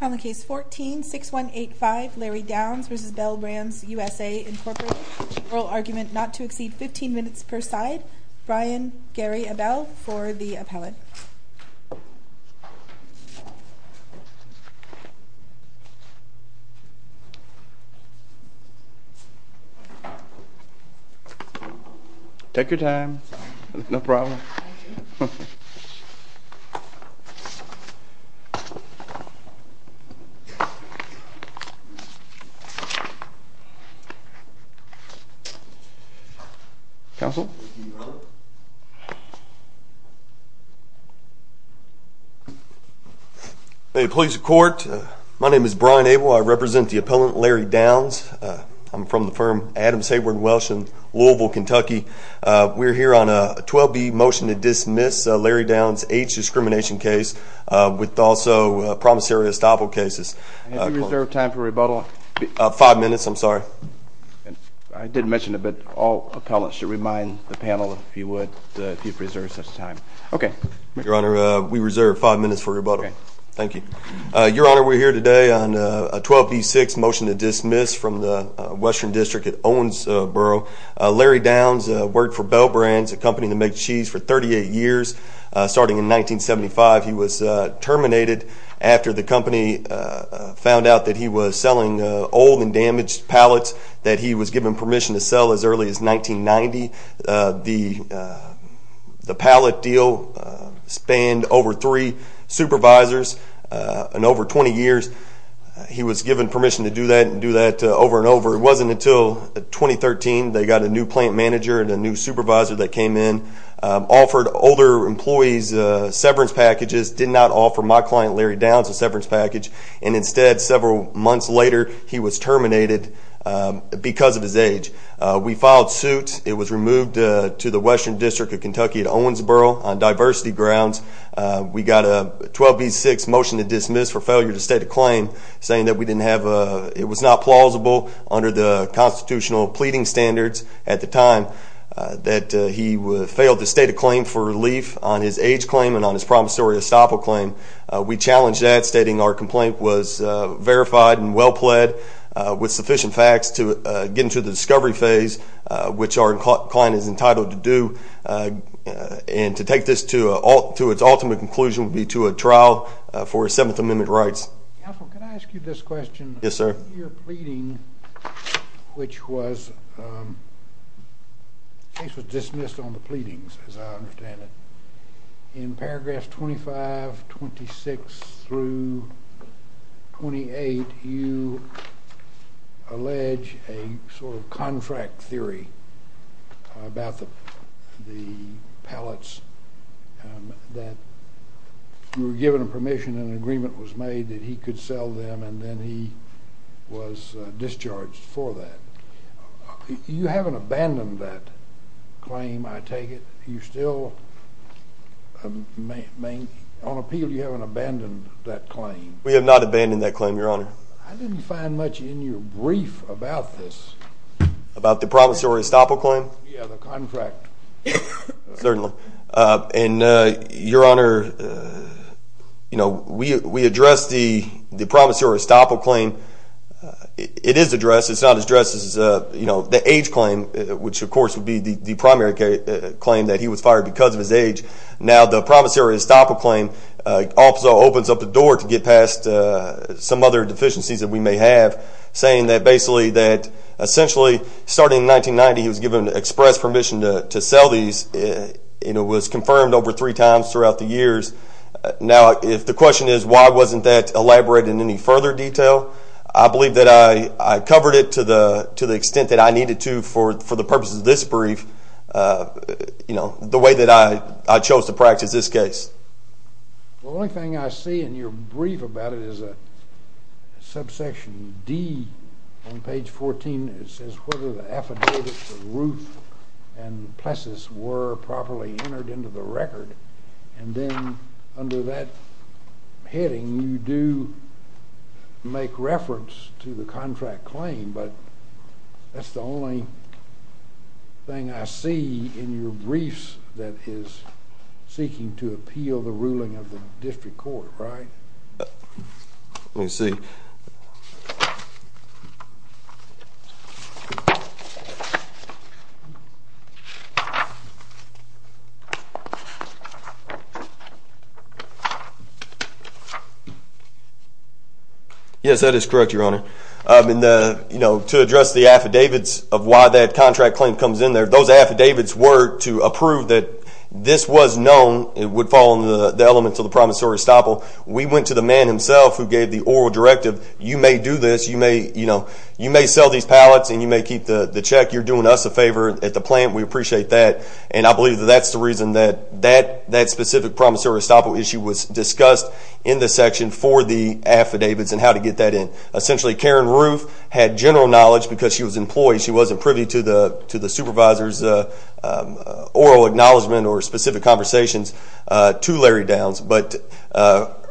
On the case 14-6185, Larry Downs v. Bel Brands USA, Inc. Oral argument not to exceed 15 minutes per side. Brian Gary Abell for the appellate. Take your time. No problem. Thank you. Counsel. May it please the court, my name is Brian Abell. I represent the appellant, Larry Downs. I'm from the firm Adams Hayward Welsh in Louisville, Kentucky. We're here on a 12-B motion to dismiss Larry Downs' age discrimination case with also promissory estoppel cases. Have you reserved time for rebuttal? Five minutes, I'm sorry. I did mention it, but all appellants should remind the panel, if you would, that you've reserved such time. Your Honor, we reserve five minutes for rebuttal. Thank you. Your Honor, we're here today on a 12-B-6 motion to dismiss from the Western District at Owensboro. Larry Downs worked for Bel Brands, a company that makes cheese, for 38 years. Starting in 1975, he was terminated after the company found out that he was selling old and damaged pallets that he was given permission to sell as early as 1990. The pallet deal spanned over three supervisors and over 20 years. He was given permission to do that and do that over and over. It wasn't until 2013 they got a new plant manager and a new supervisor that came in, offered older employees severance packages, did not offer my client Larry Downs a severance package, and instead several months later he was terminated because of his age. We filed suit. It was removed to the Western District of Kentucky at Owensboro on diversity grounds. We got a 12-B-6 motion to dismiss for failure to state a claim saying that it was not plausible under the constitutional pleading standards at the time that he failed to state a claim for relief on his age claim and on his promissory estoppel claim. We challenged that, stating our complaint was verified and well pled with sufficient facts to get him through the discovery phase, which our client is entitled to do, and to take this to its ultimate conclusion would be to a trial for his Seventh Amendment rights. Counsel, can I ask you this question? Yes, sir. Under your pleading, which was dismissed on the pleadings as I understand it, in paragraphs 25, 26, through 28, you allege a sort of contract theory about the pellets that were given permission and an agreement was made that he could sell them and then he was discharged for that. You haven't abandoned that claim, I take it? You still, on appeal, you haven't abandoned that claim? We have not abandoned that claim, Your Honor. I didn't find much in your brief about this. About the promissory estoppel claim? Yeah, the contract. Certainly. Your Honor, we addressed the promissory estoppel claim. It is addressed. It's not addressed as the age claim, which of course would be the primary claim, that he was fired because of his age. Now the promissory estoppel claim also opens up the door to get past some other deficiencies that we may have, saying that basically that essentially starting in 1990 he was given express permission to sell these and it was confirmed over three times throughout the years. Now if the question is why wasn't that elaborated in any further detail, I believe that I covered it to the extent that I needed to for the purposes of this brief, the way that I chose to practice this case. The only thing I see in your brief about it is a subsection D on page 14. It says whether the affidavits of Ruth and Plessis were properly entered into the record, and then under that heading you do make reference to the contract claim, but that's the only thing I see in your briefs that is seeking to appeal the ruling of the district court, right? Let me see. Yes, that is correct, Your Honor. To address the affidavits of why that contract claim comes in there, those affidavits were to approve that this was known and would fall under the elements of the promissory estoppel. We went to the man himself who gave the oral directive, you may do this, you may sell these pallets and you may keep the check, you're doing us a favor at the plant, we appreciate that, and I believe that that's the reason that that specific promissory estoppel issue was discussed in the section for the affidavits and how to get that in. Essentially, Karen Ruth had general knowledge because she was employed, she wasn't privy to the supervisor's oral acknowledgment or specific conversations to Larry Downs, but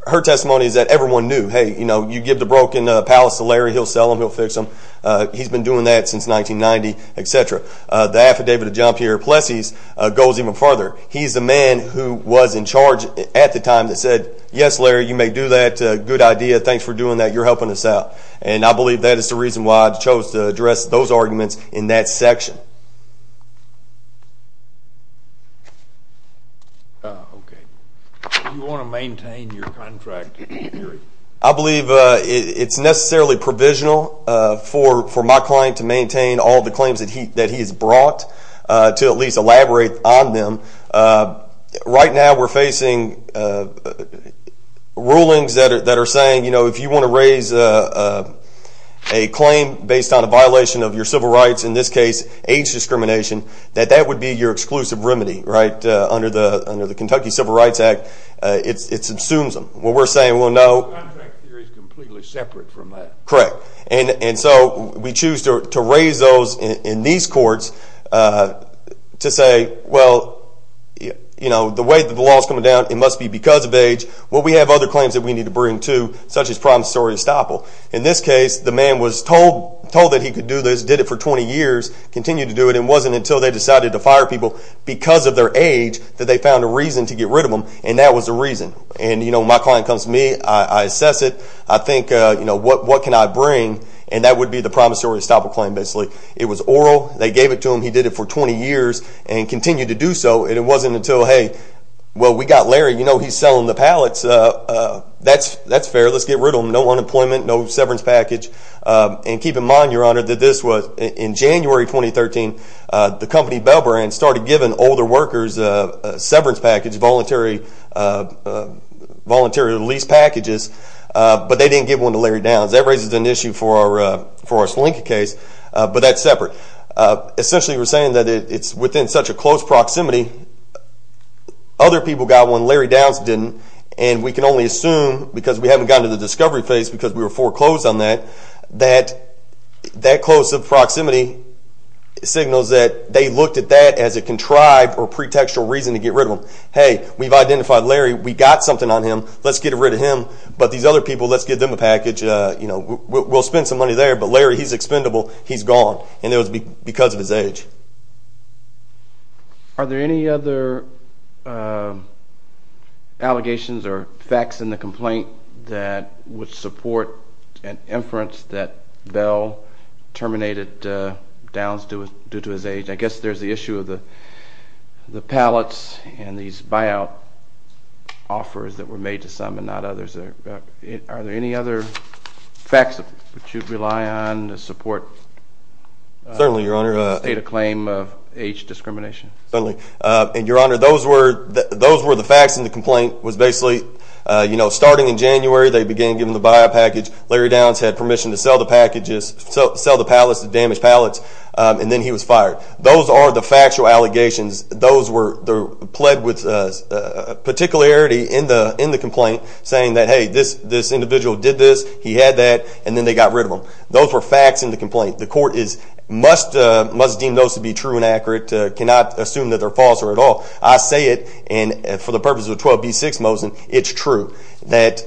her testimony is that everyone knew, hey, you give the broken pallets to Larry, he'll sell them, he'll fix them. He's been doing that since 1990, et cetera. The affidavit of John Pierre Plessis goes even further. He's the man who was in charge at the time that said, yes, Larry, you may do that, good idea, thanks for doing that, you're helping us out, and I believe that is the reason why I chose to address those arguments in that section. Do you want to maintain your contract? I believe it's necessarily provisional for my client to maintain all the claims that he has brought, to at least elaborate on them. Right now we're facing rulings that are saying, you know, if you want to raise a claim based on a violation of your civil rights, in this case age discrimination, that that would be your exclusive remedy, right, under the Kentucky Civil Rights Act. It subsumes them. What we're saying, well, no. The contract theory is completely separate from that. Correct. And so we choose to raise those in these courts to say, well, you know, the way that the law is coming down, it must be because of age. Well, we have other claims that we need to bring, too, such as problems with story estoppel. In this case, the man was told that he could do this, did it for 20 years, continued to do it, and it wasn't until they decided to fire people because of their age that they found a reason to get rid of them, and that was the reason. And, you know, when my client comes to me, I assess it. I think, you know, what can I bring, and that would be the promissory estoppel claim, basically. It was oral. They gave it to him. He did it for 20 years and continued to do so, and it wasn't until, hey, well, we got Larry. You know he's selling the pallets. That's fair. Let's get rid of him. No unemployment, no severance package. And keep in mind, Your Honor, that this was in January 2013. The company Bellbrand started giving older workers a severance package, voluntary lease packages, but they didn't give one to Larry Downs. That raises an issue for our slinky case, but that's separate. Essentially we're saying that it's within such a close proximity, other people got one, Larry Downs didn't, and we can only assume because we haven't gotten to the discovery phase because we were foreclosed on that, that close proximity signals that they looked at that as a contrived or pretextual reason to get rid of him. Hey, we've identified Larry. We got something on him. Let's get rid of him. But these other people, let's give them a package. We'll spend some money there, but Larry, he's expendable. He's gone, and it was because of his age. Are there any other allegations or facts in the complaint that would support an inference that Bell terminated Downs due to his age? I guess there's the issue of the pallets and these buyout offers that were made to some and not others. Are there any other facts that you'd rely on to support the state of claim of age discrimination? Certainly. And, Your Honor, those were the facts in the complaint. It was basically starting in January they began giving the buyout package. Larry Downs had permission to sell the pallets, the damaged pallets, and then he was fired. Those are the factual allegations. Those were pled with particularity in the complaint, saying that, hey, this individual did this, he had that, and then they got rid of him. Those were facts in the complaint. The court must deem those to be true and accurate, cannot assume that they're false or at all. I say it, and for the purposes of 12b-6 Mosin, it's true, that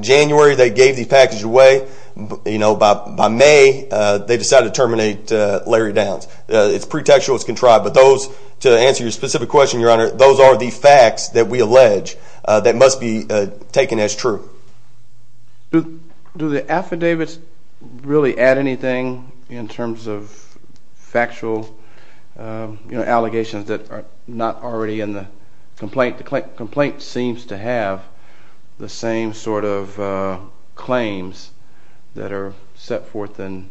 January they gave the package away. By May, they decided to terminate Larry Downs. It's pretextual, it's contrived, but those, to answer your specific question, Your Honor, those are the facts that we allege that must be taken as true. Do the affidavits really add anything in terms of factual allegations that are not already in the complaint? The complaint seems to have the same sort of claims that are set forth in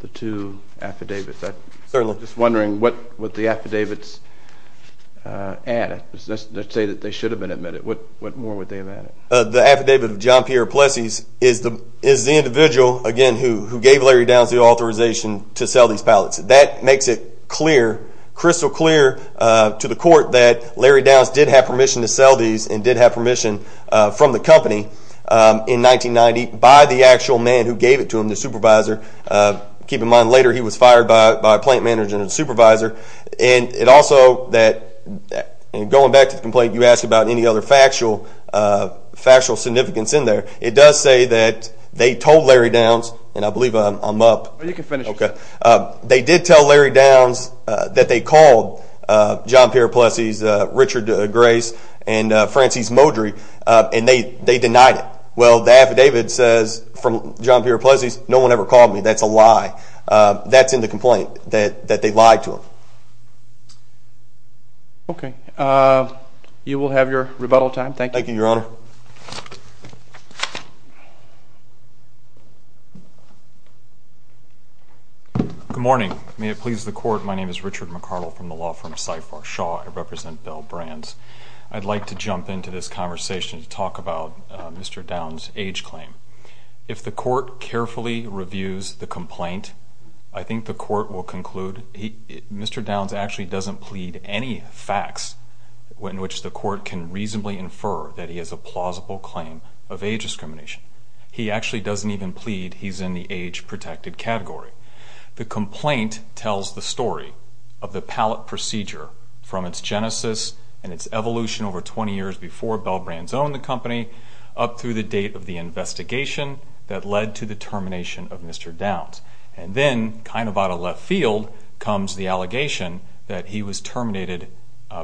the two affidavits. Certainly. I'm just wondering what would the affidavits add? Let's say that they should have been admitted. What more would they have added? The affidavit of John Pierre Plessy is the individual, again, who gave Larry Downs the authorization to sell these pallets. That makes it crystal clear to the court that Larry Downs did have permission to sell these and did have permission from the company in 1990 by the actual man who gave it to him, the supervisor. Keep in mind later he was fired by a plant manager and a supervisor. Also, going back to the complaint, you asked about any other factual significance in there. It does say that they told Larry Downs, and I believe I'm up. You can finish. They did tell Larry Downs that they called John Pierre Plessy's Richard Grace and Francis Modry, and they denied it. Well, the affidavit says from John Pierre Plessy's, no one ever called me. That's a lie. That's in the complaint, that they lied to him. Okay. You will have your rebuttal time. Thank you. Thank you, Your Honor. Good morning. May it please the Court, my name is Richard McCardle from the law firm CIFAR-Shaw. I represent Bell Brands. I'd like to jump into this conversation to talk about Mr. Downs' age claim. If the Court carefully reviews the complaint, I think the Court will conclude Mr. Downs actually doesn't plead any facts in which the Court can reasonably infer that he has a plausible claim of age discrimination. He actually doesn't even plead he's in the age-protected category. The complaint tells the story of the pallet procedure from its genesis and its evolution over 20 years before Bell Brands owned the company up through the date of the investigation that led to the termination of Mr. Downs. And then, kind of out of left field, comes the allegation that he was terminated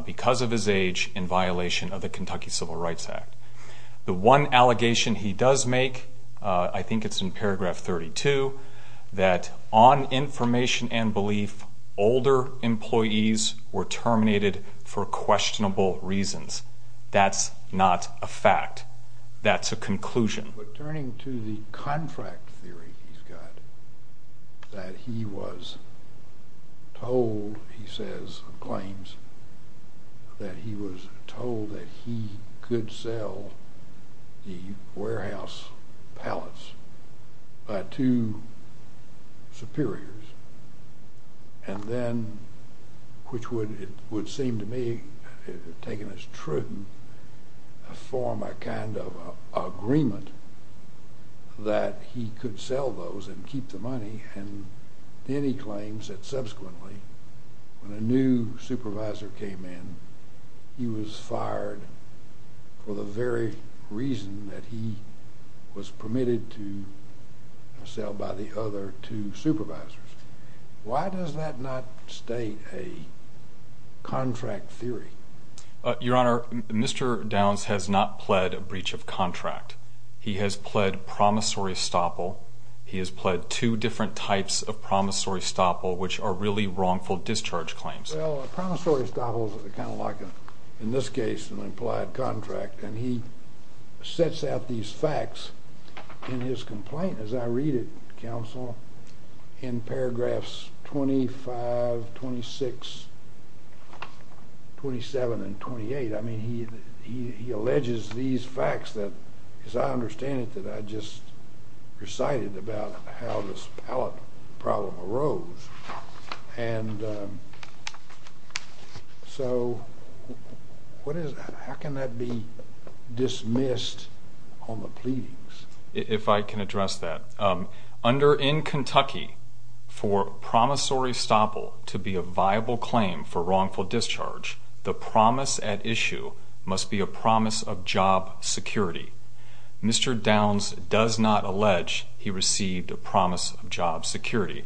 because of his age in violation of the Kentucky Civil Rights Act. The one allegation he does make, I think it's in paragraph 32, that on information and belief, older employees were terminated for questionable reasons. That's not a fact. That's a conclusion. But turning to the contract theory he's got, that he was told, he says, claims that he was told that he could sell the warehouse pallets by two superiors. And then, which would seem to me, taken as true, form a kind of agreement that he could sell those and keep the money. And then he claims that subsequently, when a new supervisor came in, he was fired for the very reason that he was fired. Why does that not state a contract theory? Your Honor, Mr. Downs has not pled a breach of contract. He has pled promissory estoppel. He has pled two different types of promissory estoppel, which are really wrongful discharge claims. Well, a promissory estoppel is kind of like, in this case, an implied contract. And he sets out these facts in his complaint, as I read it, counsel, in paragraphs 25, 26, 27, and 28. I mean, he alleges these facts that, as I understand it, that I just recited about how this pallet problem arose. And so how can that be dismissed on the pleadings? If I can address that. Under in Kentucky, for promissory estoppel to be a viable claim for wrongful discharge, the promise at issue must be a promise of job security. Mr. Downs does not allege he received a promise of job security.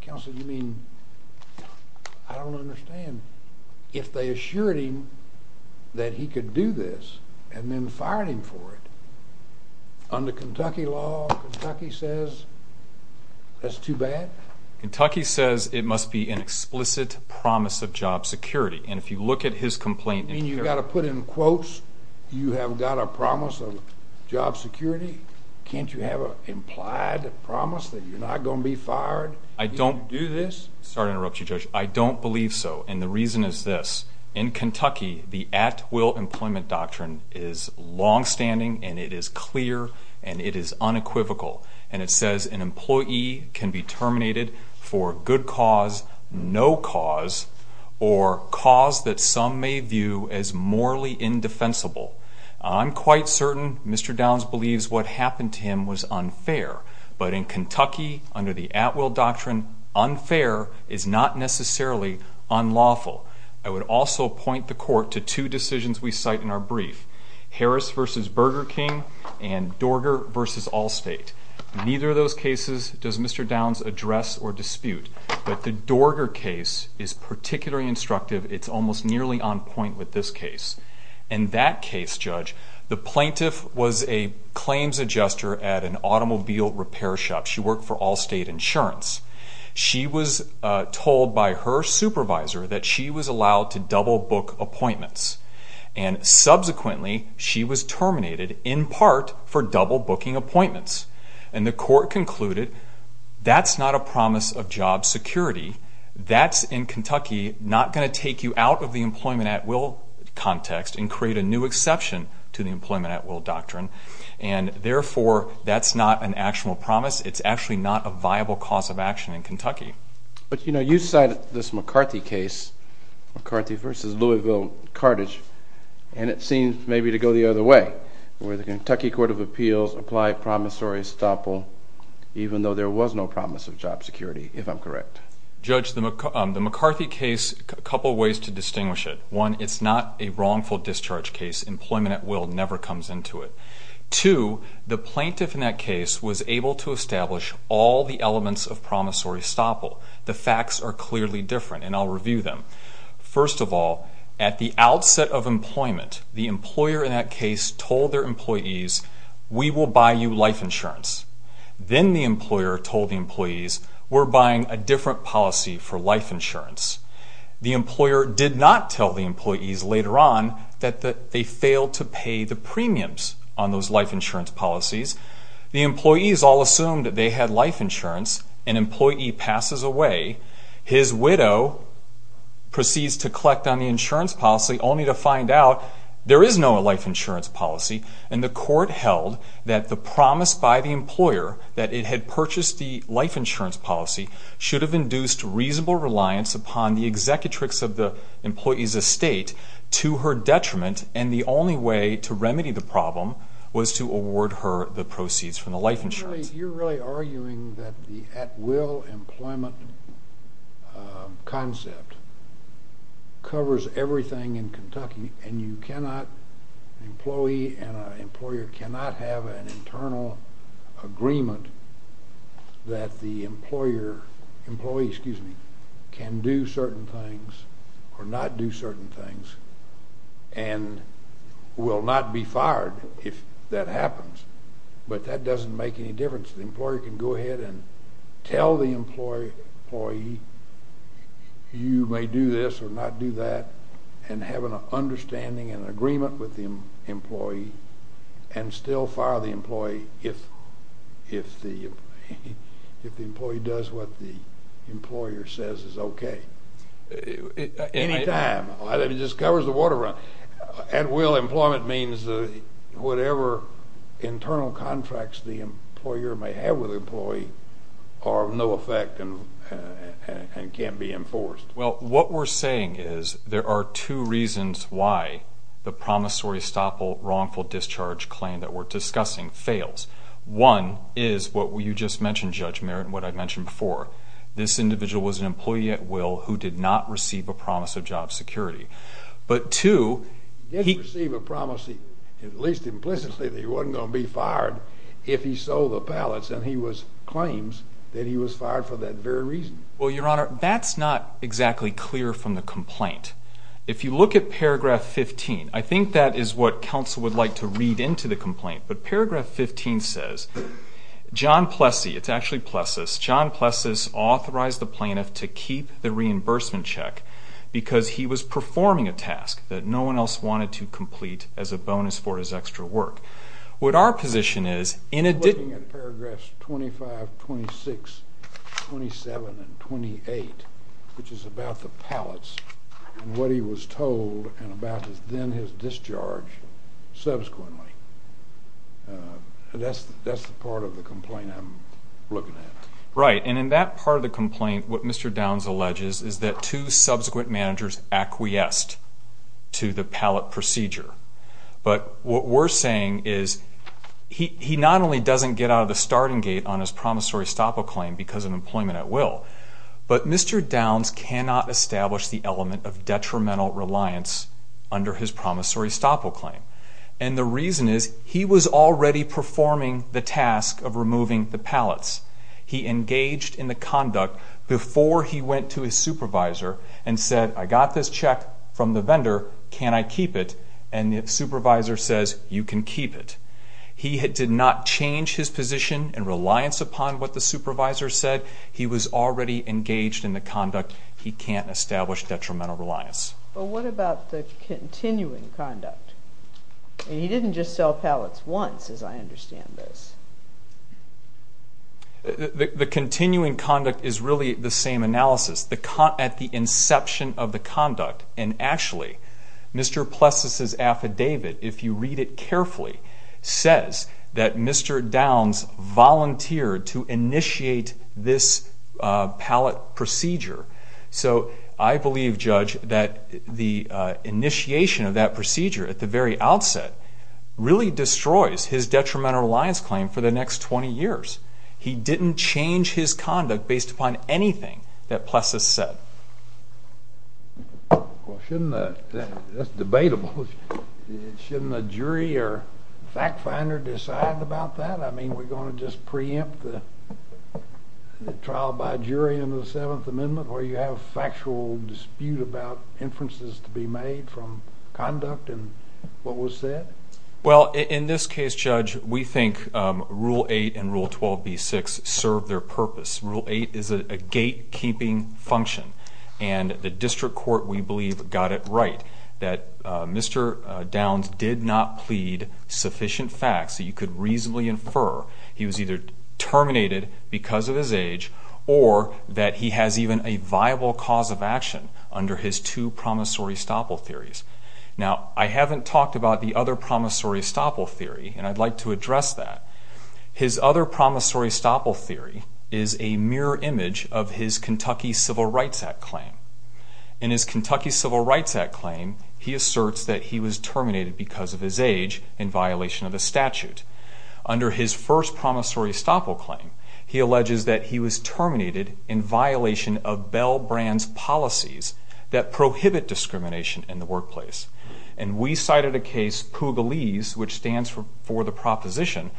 Counsel, you mean, I don't understand. If they assured him that he could do this and then fired him for it, under Kentucky law, Kentucky says that's too bad? Kentucky says it must be an explicit promise of job security. And if you look at his complaint in paragraph 25. You mean you've got to put in quotes, you have got a promise of job security? Can't you have an implied promise that you're not going to be fired if you do this? Sorry to interrupt you, Judge. I don't believe so. And the reason is this. In Kentucky, the at-will employment doctrine is longstanding and it is clear and it is unequivocal. And it says an employee can be terminated for good cause, no cause, or cause that some may view as morally indefensible. I'm quite certain Mr. Downs believes what happened to him was unfair. But in Kentucky, under the at-will doctrine, unfair is not necessarily unlawful. I would also point the court to two decisions we cite in our brief. Harris v. Burger King and Dorger v. Allstate. Neither of those cases does Mr. Downs address or dispute. But the Dorger case is particularly instructive. It's almost nearly on point with this case. In that case, Judge, the plaintiff was a claims adjuster at an automobile repair shop. She worked for Allstate Insurance. She was told by her supervisor that she was allowed to double-book appointments. And subsequently, she was terminated in part for double-booking appointments. And the court concluded that's not a promise of job security. That's, in Kentucky, not going to take you out of the employment at-will context and create a new exception to the employment at-will doctrine. And, therefore, that's not an actual promise. It's actually not a viable cause of action in Kentucky. But, you know, you cited this McCarthy case, McCarthy v. Louisville-Cartage, and it seems maybe to go the other way, where the Kentucky Court of Appeals applied promissory estoppel even though there was no promise of job security, if I'm correct. Judge, the McCarthy case, a couple ways to distinguish it. One, it's not a wrongful discharge case. Employment at-will never comes into it. Two, the plaintiff in that case was able to establish all the elements of promissory estoppel. The facts are clearly different, and I'll review them. First of all, at the outset of employment, the employer in that case told their employees, we will buy you life insurance. Then the employer told the employees, we're buying a different policy for life insurance. The employer did not tell the employees later on that they failed to pay the premiums on those life insurance policies. The employees all assumed that they had life insurance. An employee passes away. His widow proceeds to collect on the insurance policy only to find out there is no life insurance policy, and the court held that the promise by the employer that it had purchased the life insurance policy should have induced reasonable reliance upon the executrix of the employee's estate to her detriment, and the only way to remedy the problem was to award her the proceeds from the life insurance. You're really arguing that the at-will employment concept covers everything in Kentucky, and an employee and an employer cannot have an internal agreement that the employee can do certain things or not do certain things and will not be fired if that happens, but that doesn't make any difference. The employer can go ahead and tell the employee, you may do this or not do that, and have an understanding and an agreement with the employee and still fire the employee if the employee does what the employer says is okay. Anytime. It just covers the water run. At-will employment means that whatever internal contracts the employer may have with the employee are of no effect and can't be enforced. Well, what we're saying is there are two reasons why the promissory-stop-wrongful-discharge claim that we're discussing fails. One is what you just mentioned, Judge Merritt, and what I mentioned before. This individual was an employee at will who did not receive a promise of job security. But two, he did receive a promise, at least implicitly, that he wasn't going to be fired if he sold the pallets, and he claims that he was fired for that very reason. Well, Your Honor, that's not exactly clear from the complaint. If you look at paragraph 15, I think that is what counsel would like to read into the complaint. But paragraph 15 says, John Plessy, it's actually Plessis, John Plessis authorized the plaintiff to keep the reimbursement check because he was performing a task that no one else wanted to complete as a bonus for his extra work. We're looking at paragraphs 25, 26, 27, and 28, which is about the pallets, and what he was told and about then his discharge subsequently. That's the part of the complaint I'm looking at. Right, and in that part of the complaint, what Mr. Downs alleges is that two subsequent managers acquiesced to the pallet procedure. But what we're saying is he not only doesn't get out of the starting gate on his promissory stop-all claim because of employment at will, but Mr. Downs cannot establish the element of detrimental reliance under his promissory stop-all claim. And the reason is he was already performing the task of removing the pallets. He engaged in the conduct before he went to his supervisor and said, I got this check from the vendor, can I keep it? And the supervisor says, you can keep it. He did not change his position in reliance upon what the supervisor said. He was already engaged in the conduct. He can't establish detrimental reliance. But what about the continuing conduct? And he didn't just sell pallets once, as I understand this. The continuing conduct is really the same analysis. At the inception of the conduct, and actually, Mr. Plessis's affidavit, if you read it carefully, says that Mr. Downs volunteered to initiate this pallet procedure. So I believe, Judge, that the initiation of that procedure at the very outset really destroys his detrimental reliance claim for the next 20 years. He didn't change his conduct based upon anything that Plessis said. That's debatable. Shouldn't a jury or fact finder decide about that? I mean, we're going to just preempt the trial by jury in the Seventh Amendment where you have a factual dispute about inferences to be made from conduct and what was said? Well, in this case, Judge, we think Rule 8 and Rule 12b-6 serve their purpose. Rule 8 is a gatekeeping function, and the district court, we believe, got it right, that Mr. Downs did not plead sufficient facts so you could reasonably infer he was either terminated because of his age or that he has even a viable cause of action under his two promissory stopple theories. Now, I haven't talked about the other promissory stopple theory, and I'd like to address that. His other promissory stopple theory is a mirror image of his Kentucky Civil Rights Act claim. In his Kentucky Civil Rights Act claim, he asserts that he was terminated because of his age in violation of the statute. Under his first promissory stopple claim, he alleges that he was terminated in violation of Bell Brand's policies that prohibit discrimination in the workplace. And we cited a case, Pugliese, which stands for the proposition,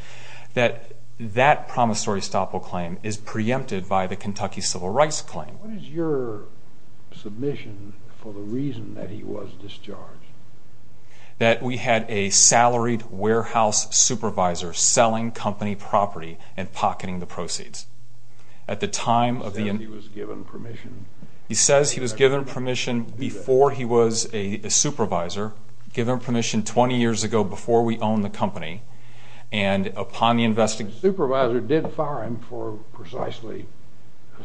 that that promissory stopple claim is preempted by the Kentucky Civil Rights claim. What is your submission for the reason that he was discharged? That we had a salaried warehouse supervisor selling company property and pocketing the proceeds. He said he was given permission. He says he was given permission before he was a supervisor, given permission 20 years ago before we owned the company, and upon the investigation... The supervisor did fire him for precisely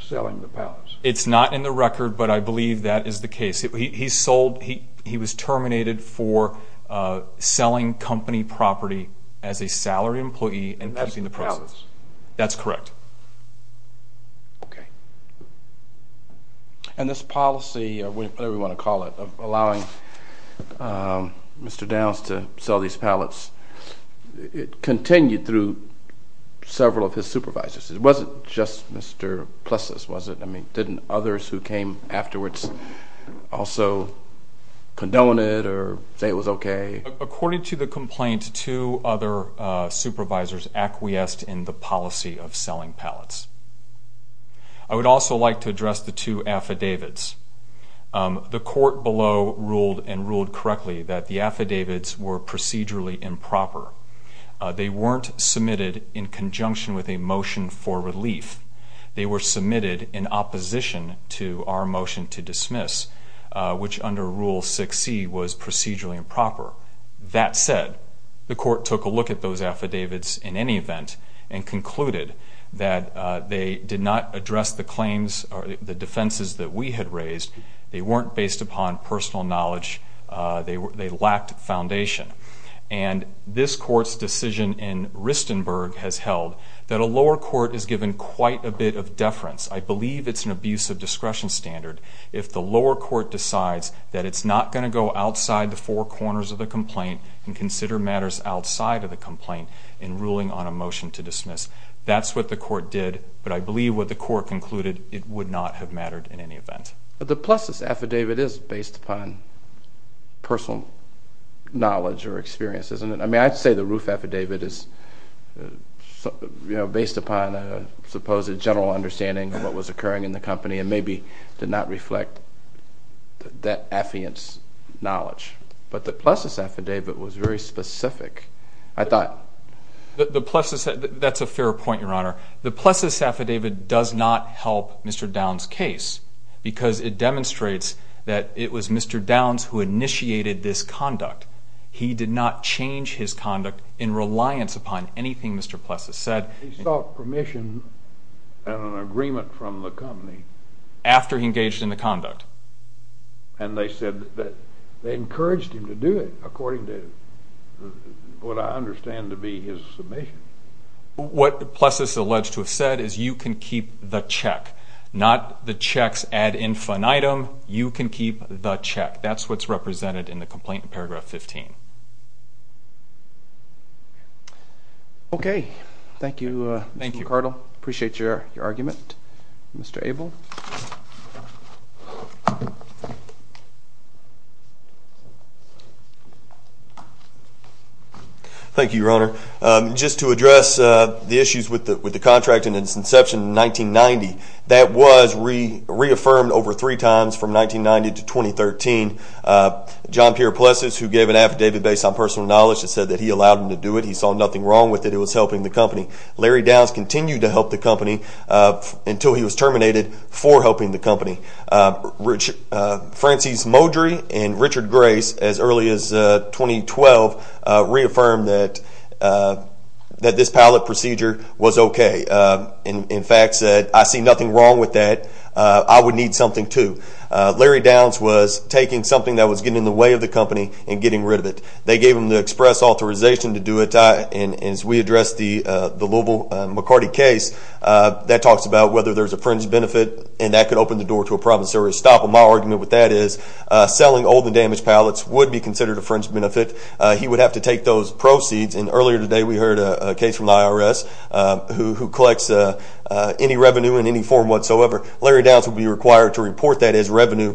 selling the palace. It's not in the record, but I believe that is the case. He was terminated for selling company property as a salaried employee and keeping the proceeds. And that's the palace. That's correct. And this policy, whatever you want to call it, allowing Mr. Downs to sell these palaces, it continued through several of his supervisors. It wasn't just Mr. Plessis, was it? I mean, didn't others who came afterwards also condone it or say it was okay? According to the complaint, two other supervisors acquiesced in the policy of selling palace. I would also like to address the two affidavits. The court below ruled and ruled correctly that the affidavits were procedurally improper. They weren't submitted in conjunction with a motion for relief. They were submitted in opposition to our motion to dismiss, which under Rule 6C was procedurally improper. That said, the court took a look at those affidavits in any event and concluded that they did not address the claims or the defenses that we had raised. They weren't based upon personal knowledge. They lacked foundation. And this court's decision in Ristenberg has held that a lower court is given quite a bit of deference. I believe it's an abuse of discretion standard if the lower court decides that it's not going to go outside the four corners of the complaint and consider matters outside of the complaint in ruling on a motion to dismiss. That's what the court did, but I believe what the court concluded, it would not have mattered in any event. The Plessis affidavit is based upon personal knowledge or experience, isn't it? I mean, I'd say the Roof affidavit is based upon a supposed general understanding of what was occurring in the company and maybe did not reflect that affiant's knowledge. But the Plessis affidavit was very specific. I thought... That's a fair point, Your Honor. The Plessis affidavit does not help Mr. Downs' case because it demonstrates that it was Mr. Downs who initiated this conduct. He did not change his conduct in reliance upon anything Mr. Plessis said. He sought permission and an agreement from the company. After he engaged in the conduct. And they said that they encouraged him to do it according to what I understand to be his submission. What Plessis alleged to have said is you can keep the check, not the check's ad infinitum. You can keep the check. That's what's represented in the complaint in paragraph 15. Okay. Thank you, Mr. McCardle. Thank you. Mr. Abel. Thank you, Your Honor. Just to address the issues with the contract and its inception in 1990. That was reaffirmed over three times from 1990 to 2013. John Pierre Plessis, who gave an affidavit based on personal knowledge, said that he allowed him to do it. He saw nothing wrong with it. It was helping the company. Larry Downs continued to help the company until he was terminated for helping the company. Francis Modry and Richard Grace, as early as 2012, reaffirmed that this pallet procedure was okay. In fact, said, I see nothing wrong with that. I would need something, too. Larry Downs was taking something that was getting in the way of the company and getting rid of it. They gave him the express authorization to do it. As we addressed the Louisville McCarty case, that talks about whether there's a fringe benefit, and that could open the door to a provisory stop. My argument with that is selling old and damaged pallets would be considered a fringe benefit. He would have to take those proceeds. And earlier today we heard a case from the IRS who collects any revenue in any form whatsoever. Larry Downs would be required to report that as revenue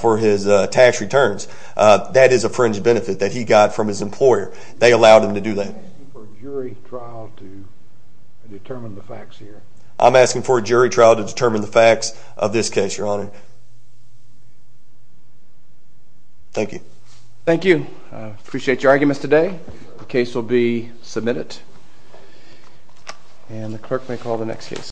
for his tax returns. That is a fringe benefit that he got from his employer. They allowed him to do that. I'm asking for a jury trial to determine the facts here. I'm asking for a jury trial to determine the facts of this case, Your Honor. Thank you. Thank you. I appreciate your arguments today. The case will be submitted, and the clerk may call the next case.